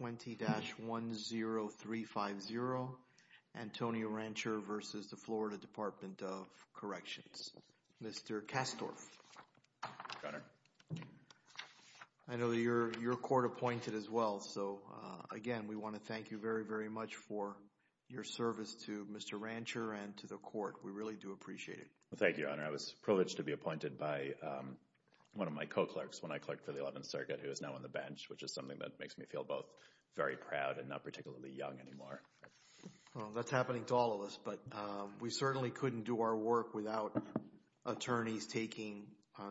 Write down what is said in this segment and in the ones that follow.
20-10350 Antonio Rancher v. Florida Department of Corrections Mr. Kastorf, I know you're your court appointed as well so again we want to thank you very very much for your service to Mr. Rancher and to the court we really do appreciate it. Thank you, I was privileged to be appointed by one of my co-clerks when I clerked for the Eleventh Circuit who is now on the trial both very proud and not particularly young anymore. Well that's happening to all of us but we certainly couldn't do our work without attorneys taking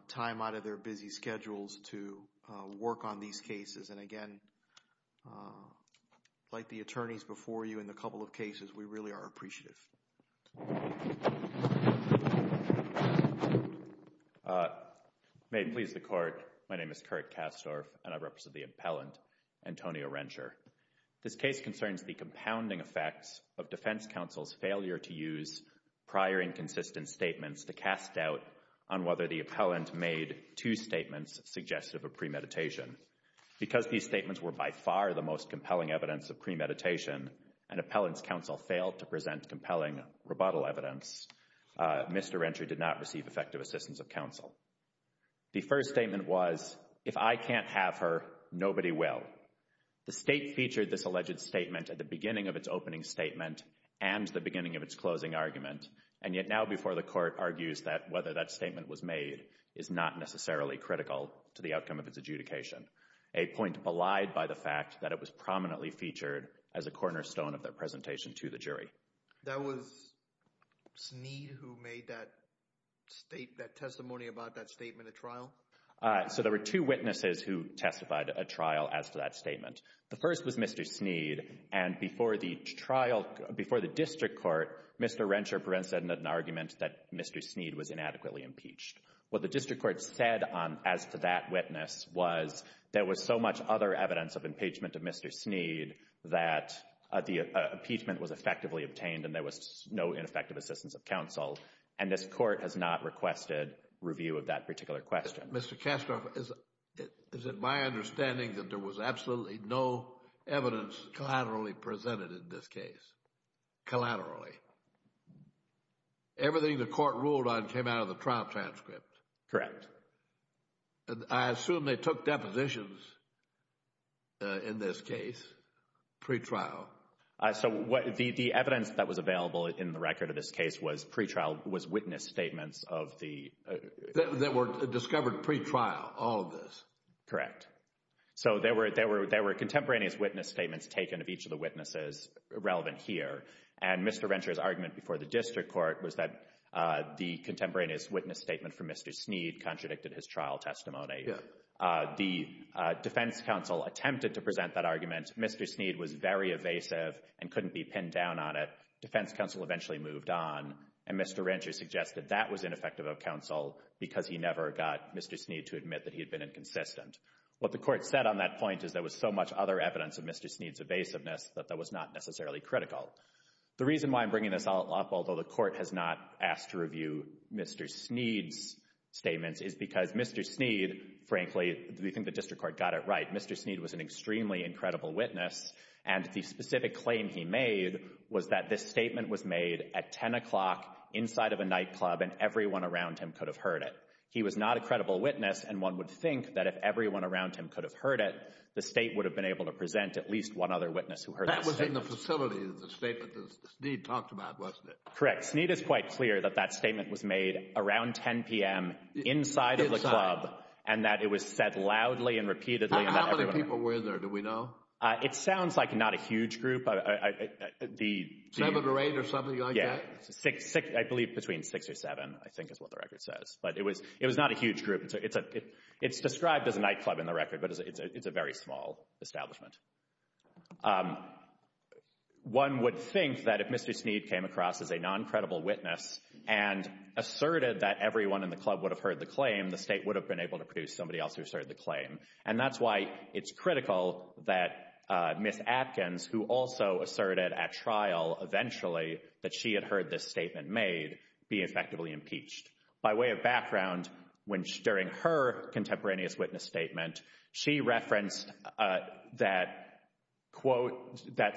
time out of their busy schedules to work on these cases and again like the attorneys before you in the couple of cases we really are appreciative. May it please the court, my name is Kurt Kastorf and I represent the appellant Antonio Rancher. This case concerns the compounding effects of defense counsel's failure to use prior inconsistent statements to cast doubt on whether the appellant made two statements suggestive of premeditation. Because these statements were by far the most compelling evidence of premeditation and appellant's counsel failed to present compelling rebuttal evidence, Mr. Rancher did not receive effective assistance of counsel. The first statement was if I the state featured this alleged statement at the beginning of its opening statement and the beginning of its closing argument and yet now before the court argues that whether that statement was made is not necessarily critical to the outcome of its adjudication. A point belied by the fact that it was prominently featured as a cornerstone of their presentation to the jury. That was Sneed who made that state that testimony about that statement at trial? So there were two witnesses who testified at trial as to that statement. The first was Mr. Sneed and before the trial, before the district court, Mr. Rancher presented an argument that Mr. Sneed was inadequately impeached. What the district court said on as to that witness was there was so much other evidence of impeachment of Mr. Sneed that the impeachment was effectively obtained and there was no ineffective assistance of counsel and this court has not requested review of that particular question. Mr. Kastorf, is it my understanding that there was absolutely no evidence collaterally presented in this case? Collaterally? Everything the court ruled on came out of the trial transcript? Correct. I assume they took depositions in this case pre-trial? So the evidence that was available in the record of this case was pre-trial was witness statements of the... That were discovered pre-trial, all of this? Correct. So there were contemporaneous witness statements taken of each of the witnesses relevant here and Mr. Rancher's argument before the district court was that the contemporaneous witness statement from Mr. Sneed contradicted his trial testimony. The defense counsel attempted to present that argument. Mr. Sneed was very evasive and couldn't be pinned down on it. Defense counsel eventually moved on and Mr. Rancher suggested that was ineffective of counsel because he never got Mr. Sneed to admit that he had been inconsistent. What the court said on that point is there was so much other evidence of Mr. Sneed's evasiveness that that was not necessarily critical. The reason why I'm bringing this all up, although the court has not asked to review Mr. Sneed's statements, is because Mr. Sneed, frankly, we think the district court got it right. Mr. Sneed was an extremely incredible witness and the specific claim he made was that this statement was made at 10 o'clock inside of a night club and everyone around him could have heard it. He was not a credible witness and one would think that if everyone around him could have heard it, the state would have been able to present at least one other witness who heard that statement. That was in the facility, the statement that Sneed talked about, wasn't it? Correct. Sneed is quite clear that that statement was made around 10 p.m. inside of the club and that it was said loudly and repeatedly. How many people were in there, do we know? It sounds like not a huge group. Seven or eight or something like that? Yeah, I believe between six or seven, I think is what the record says. But it was not a huge group. It's described as a nightclub in the record, but it's a very small establishment. One would think that if Mr. Sneed came across as a non-credible witness and asserted that everyone in the club would have heard the claim, the state would have been able to produce somebody else who asserted the claim. And that's why it's critical that Ms. Atkins, who also asserted at trial eventually that she had heard this statement made, be effectively impeached. By way of background, during her contemporaneous witness statement, she referenced that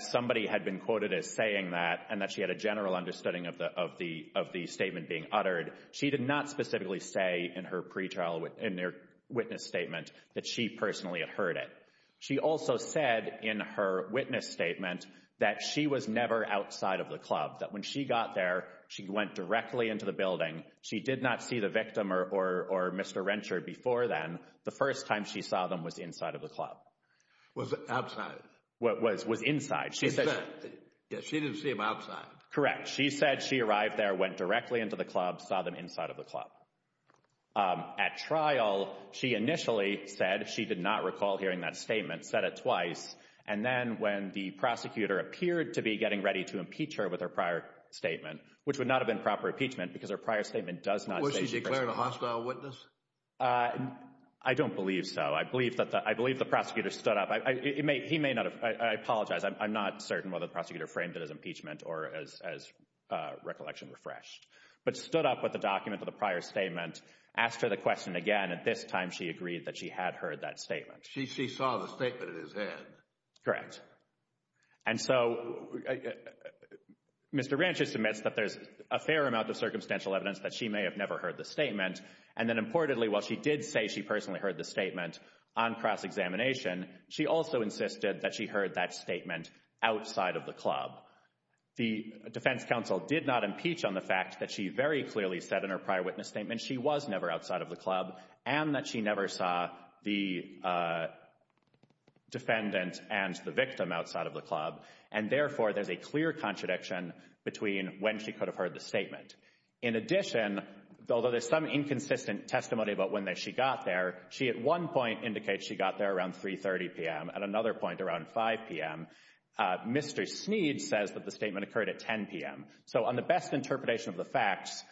somebody had been quoted as saying that and that she had a general understanding of the statement being uttered. She did not specifically say in her pre-trial witness statement that she personally had heard it. She also said in her witness statement that she was never outside of the club, that when she got there, she went directly into the building. She did not see the victim or Mr. Rensher before then. The first time she saw them was inside of the club. Was outside? Was inside. Yeah, she didn't see them outside. Correct. She said she arrived there, went directly into the club, saw them inside of the club. At trial, she initially said she did not recall hearing that statement, said it twice. And then when the prosecutor appeared to be getting ready to impeach her with her prior statement, which would not have been proper impeachment because her prior statement does not say she personally... Or she declared a hostile witness? I don't believe so. I believe that the prosecutor stood up. He may not have. I apologize. I'm not certain whether the prosecutor framed it as impeachment or as recollection refreshed, but stood up with the document of the prior statement, asked her the question again. At this time, she agreed that she had heard that statement. She saw the statement in his hand? Correct. And so Mr. Rensher submits that there's a fair amount of circumstantial evidence that she may have never heard the statement. And then importantly, while she did say she personally heard the statement on cross-examination, she also insisted that heard that statement outside of the club. The defense counsel did not impeach on the fact that she very clearly said in her prior witness statement she was never outside of the club and that she never saw the defendant and the victim outside of the club. And therefore, there's a clear contradiction between when she could have heard the statement. In addition, although there's some inconsistent testimony about when she got there, she at one point indicates she got there around 3.30 p.m. At another point around 5 p.m., Mr. Sneed says that the statement occurred at 10 p.m. So on the best interpretation of the facts,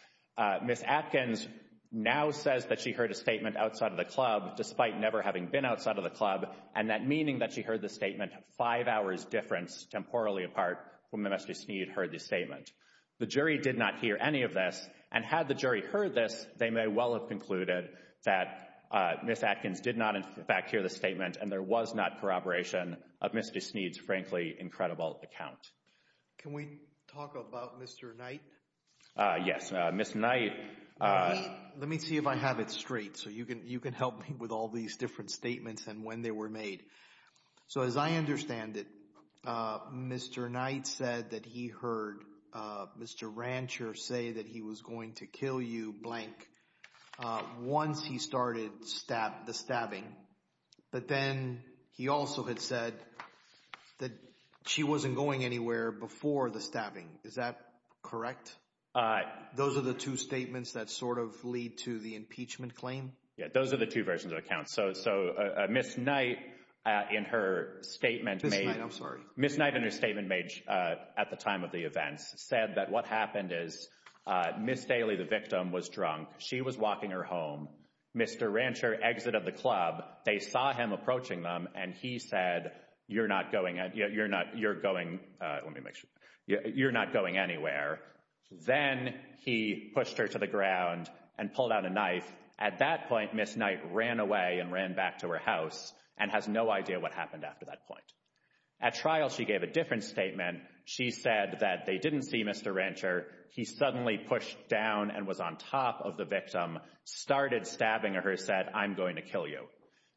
Ms. Atkins now says that she heard a statement outside of the club despite never having been outside of the club and that meaning that she heard the statement five hours difference temporally apart from when Mr. Sneed heard the statement. The jury did not hear any of this, and had the jury heard this, they may well have concluded that Ms. Atkins did not in fact hear the statement and there was not corroboration of Ms. Sneed's frankly incredible account. Can we talk about Mr. Knight? Yes, Ms. Knight... Let me see if I have it straight so you can help me with all these different statements and when they were made. So as I understand it, Mr. Knight said that he heard Mr. Rancher say that he was going to kill you blank once he started the stabbing, but then he also had said that she wasn't going anywhere before the stabbing. Is that correct? Those are the two statements that sort of lead to the impeachment claim? Yeah, those are the two versions of accounts. So Ms. Knight in her statement made... Ms. Knight, I'm sorry. Ms. Knight in her statement at the time of the events said that what happened is Ms. Daly, the victim, was drunk, she was walking her home, Mr. Rancher exited the club, they saw him approaching them, and he said you're not going anywhere. Then he pushed her to the ground and pulled out a knife. At that point, Ms. Knight ran away and ran back to her house and has no idea what happened after that point. At trial, she gave a different statement. She said that they didn't see Mr. Rancher, he suddenly pushed down and was on top of the victim, started stabbing her, said I'm going to kill you.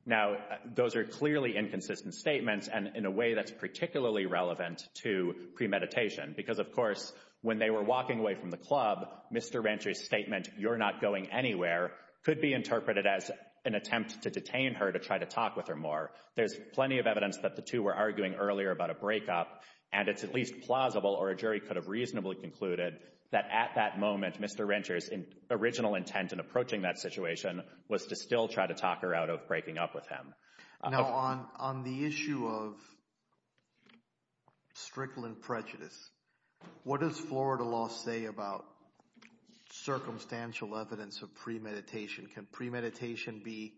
Now, those are clearly inconsistent statements and in a way that's particularly relevant to premeditation because, of course, when they were walking away from the club, Mr. Rancher's statement you're not going anywhere could be interpreted as an attempt to detain her to try to talk with her more. There's plenty of evidence that the two were arguing earlier about a breakup and it's at least plausible or a jury could have reasonably concluded that at that moment Mr. Rancher's original intent in approaching that situation was to still try to talk her out of breaking up with him. Now, on the issue of strickling prejudice, what does Florida law say about circumstantial evidence of premeditation? Can premeditation be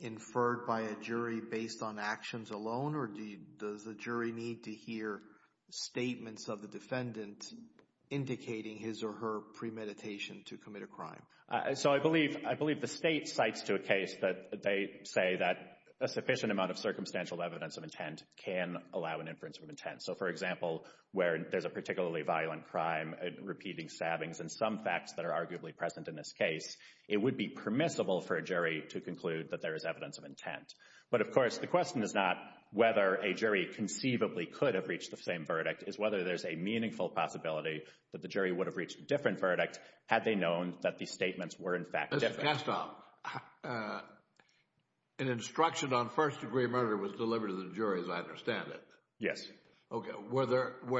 inferred by a jury based on actions alone or does the jury need to hear statements of the defendant indicating his or her premeditation to commit a crime? So, I believe the state cites to a case that they say that a sufficient amount of circumstantial evidence of intent can allow an inference from intent. So, for example, where there's a particularly violent crime, repeating stabbings and some facts that are arguably present in this case, it would be permissible for a jury to But, of course, the question is not whether a jury conceivably could have reached the same verdict, it's whether there's a meaningful possibility that the jury would have reached a different verdict had they known that these statements were in fact different. Mr. Kastoff, an instruction on first degree murder was delivered to the jury as I understand it. Yes. Okay, were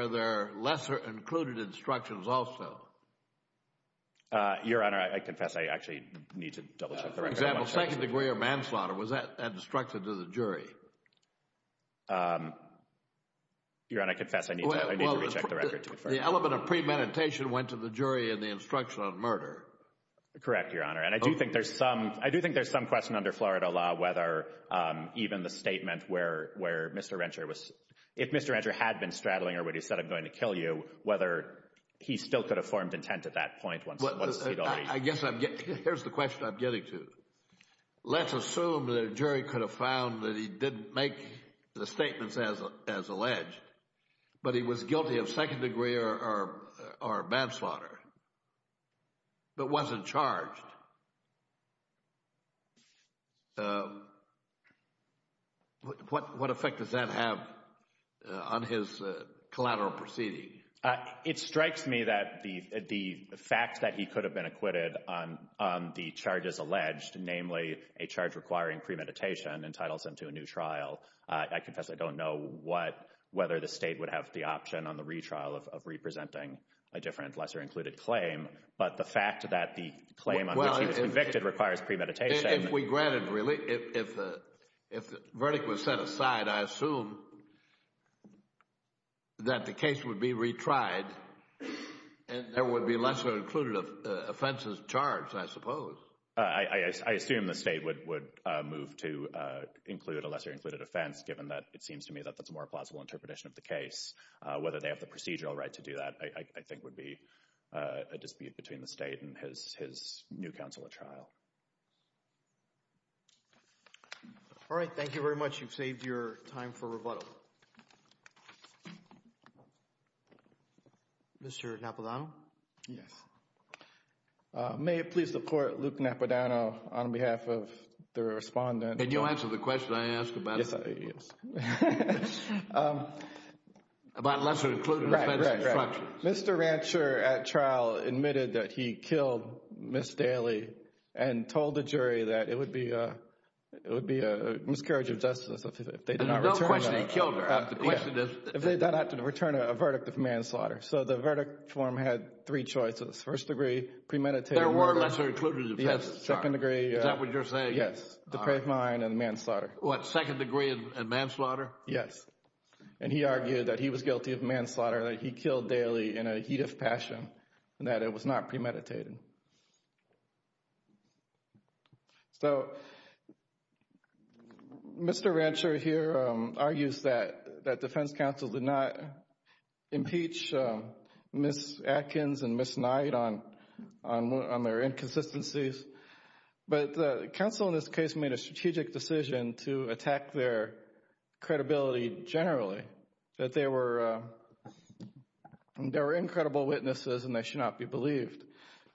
there lesser included instructions also? Your Honor, I confess I actually need to double check. For example, second degree or manslaughter, was that instructed to the jury? Your Honor, I confess I need to recheck the record. The element of premeditation went to the jury in the instruction on murder. Correct, Your Honor, and I do think there's some, I do think there's some question under Florida law whether even the statement where Mr. Rensher was, if Mr. Rensher had been straddling or what he said, I'm going to kill you, whether he still could have formed intent at that point. I guess I'm, here's the question I'm getting to. Let's assume the jury could have found that he didn't make the statements as alleged, but he was guilty of second degree or manslaughter, but wasn't charged. What effect does that have on his collateral proceeding? It strikes me that the fact that he could have been acquitted on the charges alleged, namely a charge requiring premeditation, entitles him to a new trial. I confess I don't know what, whether the state would have the option on the retrial of representing a different lesser included claim, but the fact that the claim on which he was convicted requires premeditation. If we granted, really, if the verdict was set aside, I assume that the case would be retried and there would be lesser included offenses charged, I suppose. I assume the state would move to include a lesser included offense, given that it seems to me that that's a more plausible interpretation of the case. Whether they have the procedural right to do that, I think would be a dispute between the state and his new counsel at trial. All right. Thank you very much. You've saved your time for rebuttal. Mr. Napodano? Yes. May it please the court, Luke Napodano, on behalf of the respondent. Did you answer the question I asked about it? Yes, I did, yes. About lesser included offenses. Right, right, right. Mr. Rancher at trial admitted that he would be a miscarriage of justice if they did not return a verdict of manslaughter. So the verdict form had three choices. First degree, premeditated. There were lesser included offenses. Second degree. Is that what you're saying? Yes. Depraved mind and manslaughter. What, second degree and manslaughter? Yes. And he argued that he was guilty of manslaughter, that he killed daily in a heat of passion, and that it was not premeditated. So Mr. Rancher here argues that defense counsel did not impeach Ms. Atkins and Ms. Knight on their inconsistencies. But counsel in this case made a strategic decision to attack their credibility generally, that they were incredible witnesses and they should not be believed.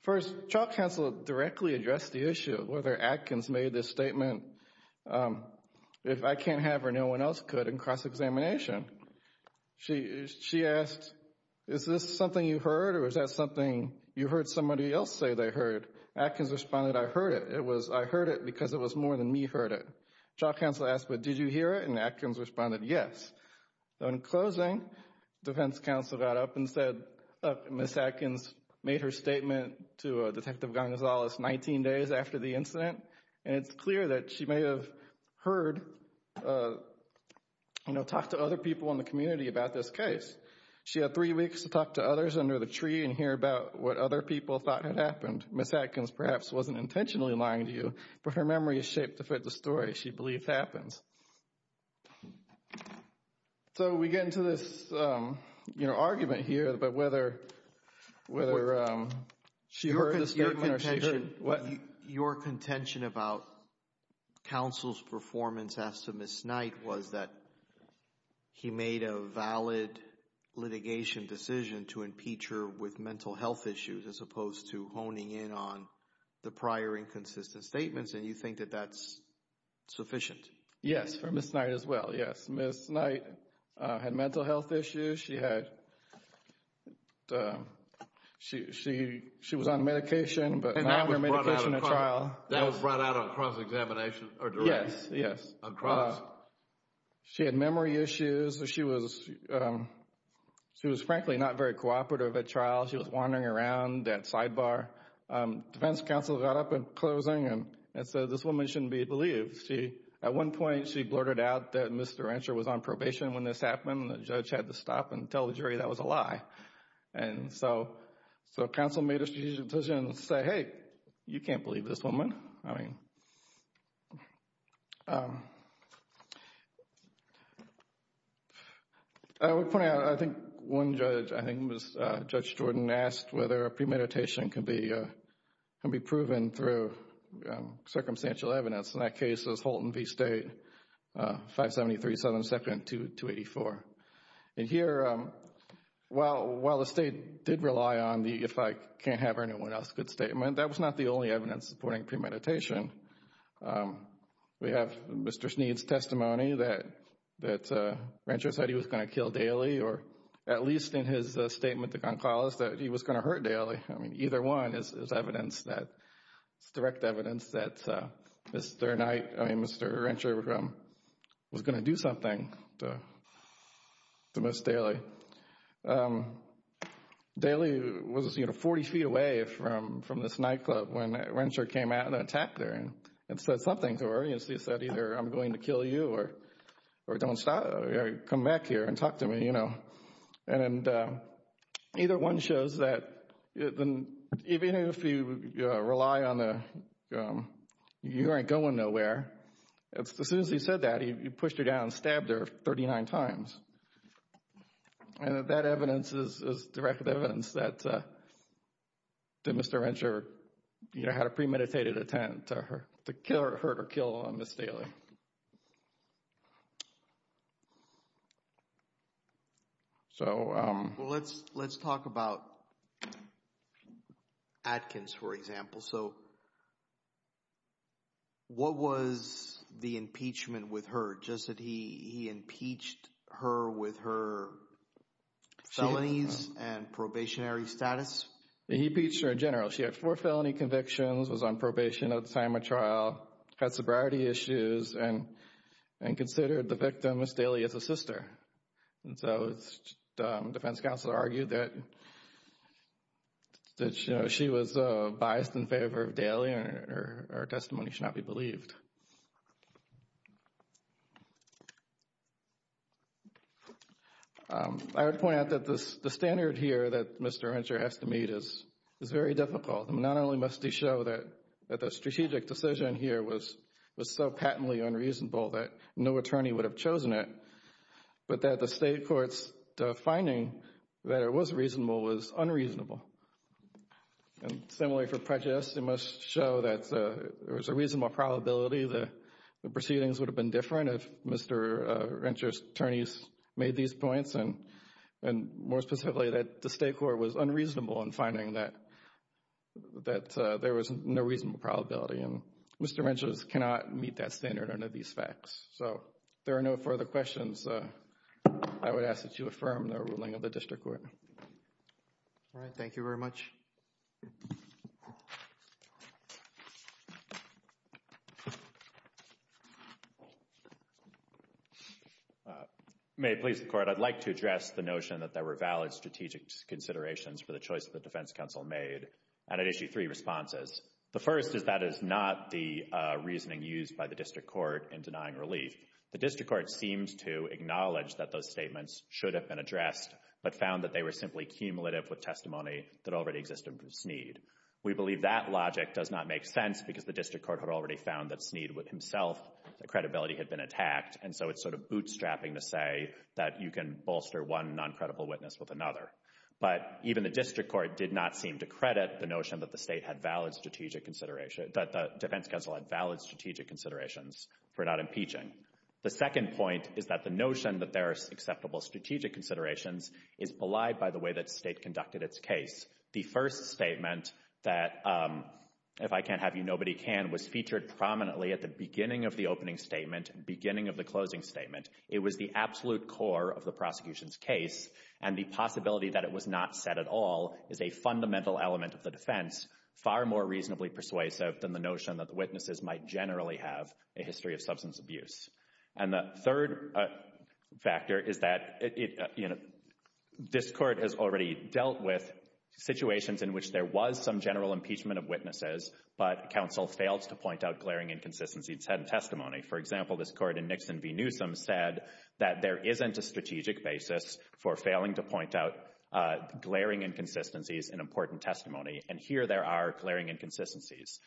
First, trial counsel directly addressed the issue of whether Atkins made this statement, if I can't have her, no one else could, in cross-examination. She asked, is this something you heard or is that something you heard somebody else say they heard? Atkins responded, I heard it. It was, I heard it because it was more than me heard it. Trial counsel asked, but did you hear it? And Atkins responded, yes. In closing, defense counsel got up and said, Ms. Atkins made her statement to Detective Gonzalez 19 days after the incident, and it's clear that she may have heard, you know, talked to other people in the community about this case. She had three weeks to talk to others under the tree and hear about what other people thought had happened. Ms. Atkins perhaps wasn't intentionally lying to you, but her memory is shaped to fit the story she believes happened. So we get into this, you know, argument here about whether she heard the statement or she didn't. Your contention about counsel's performance as to Ms. Knight was that he made a valid litigation decision to impeach her with mental health issues as opposed to honing in on the prior inconsistent statements, and you think that that's sufficient? Yes, for Ms. Knight as well, yes. Ms. Knight had mental health issues. She had, she was on medication, but not on her medication at trial. That was brought out on cross-examination or direct? Yes, yes. On cross? She had memory issues. She was, she was frankly not very cooperative at trial. She was wandering around that sidebar. Defense counsel got up in closing and said this woman shouldn't be believed. She, at one point, she blurted out that Mr. Rancher was on probation when this happened and the judge had to stop and tell the jury that was a lie. And so, so counsel made a decision to say, hey, you can't believe this woman. I mean, I would point out, I think one judge, I think it was Judge Jordan, asked whether premeditation can be, can be proven through circumstantial evidence. In that case, it was Holton v. State, 573-772-284. And here, while, while the state did rely on the, if I can't have anyone else's good statement, that was not the only evidence supporting premeditation. We have Mr. Sneed's testimony that, that Rancher said he was going to kill Daly, or at least in his statement to Goncalves, that he was going to hurt Daly. I mean, either one is evidence that, it's direct evidence that Mr. Knight, I mean, Mr. Rancher was going to do something to Ms. Daly. Daly was, you know, 40 feet away from, from this nightclub when Rancher came out and attacked her, and said something to her. He said, either I'm going to kill you or, or don't stop, come back here and talk to me, you know. And either one shows that even if you rely on the, you aren't going nowhere, as soon as he said that, he pushed her down and stabbed her 39 times. And that evidence is, is direct evidence that, that Mr. Rancher, you know, had a premeditated attempt to hurt, to kill or hurt or kill Ms. Daly. So. Well, let's, let's talk about Atkins, for example. So, what was the impeachment with her? Just that he, he impeached her with her felonies and probationary status? He impeached her in general. She had four felony convictions, was on probation at the time of trial, had sobriety issues, and, and considered the victim, Ms. Daly, as a sister. And so, defense counsel argued that, that, you know, she was biased in favor of Daly, and her testimony should not be believed. I would point out that this, the standard here that Mr. Rancher has to meet is, is very difficult. Not only must he show that, that the strategic decision here was, was so patently unreasonable that no attorney would have chosen it, but that the state court's finding that it was reasonable was unreasonable. And similarly for prejudice, it must show that there was a reasonable probability that the proceedings would have been different if Mr. Rancher's attorneys made these points and, and more specifically, that the state court was unreasonable in finding that, that there was no reasonable probability. And Mr. Rancher's cannot meet that standard under these facts. So, if there are no further questions, I would ask that you affirm the ruling of the district court. All right, thank you very much. May it please the court, I'd like to address the notion that there were valid strategic considerations for the choice of the defense counsel made, and I'd issue three responses. The first is that is not the reasoning used by the district court in denying relief. The district court seems to acknowledge that those statements should have been addressed, but found that they were simply cumulative with testimony that already existed from Sneed. We believe that logic does not make sense because the district court had already found that Sneed would himself, the credibility had been attacked, and so it's sort of bootstrapping to say that you can bolster one non-credible witness with another. But even the district court did not seem to credit the notion that the state had valid strategic consideration, that the defense counsel had valid strategic considerations for not impeaching. The second point is that the notion that there are acceptable strategic considerations is belied by the way that state conducted its case. The first statement that, if I can't have you, nobody can, was featured prominently at the beginning of the opening statement, beginning of the closing statement. It was the absolute core of the prosecution's case, and the possibility that it was not said at all is a fundamental element of the defense, far more reasonably persuasive than the notion that the witnesses might generally have a history of substance abuse. And the third factor is that, you know, this court has already dealt with situations in which there was some general impeachment of witnesses, but counsel failed to point out glaring inconsistencies in testimony. For example, this is a strategic basis for failing to point out glaring inconsistencies in important testimony, and here there are glaring inconsistencies.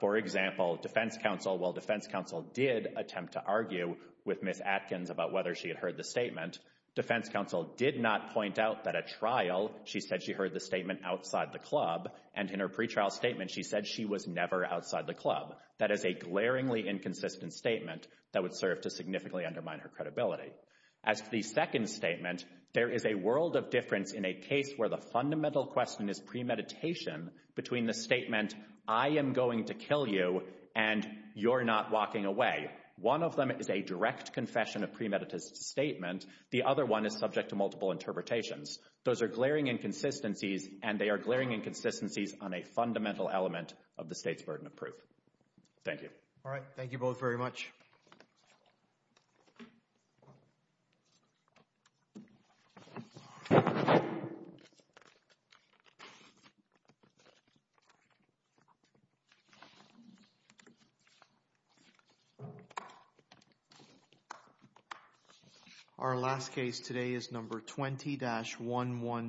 For example, defense counsel, while defense counsel did attempt to argue with Ms. Atkins about whether she had heard the statement, defense counsel did not point out that at trial she said she heard the statement outside the club, and in her pre-trial statement she said she was never outside the club. That is a glaringly inconsistent statement that would serve to significantly undermine her credibility. As for the second statement, there is a world of difference in a case where the fundamental question is premeditation between the statement, I am going to kill you, and you're not walking away. One of them is a direct confession of premeditated statement. The other one is subject to multiple interpretations. Those are glaring inconsistencies, and they are glaring inconsistencies on a fundamental element of the state's burden of justice. Our last case today is number 20-110.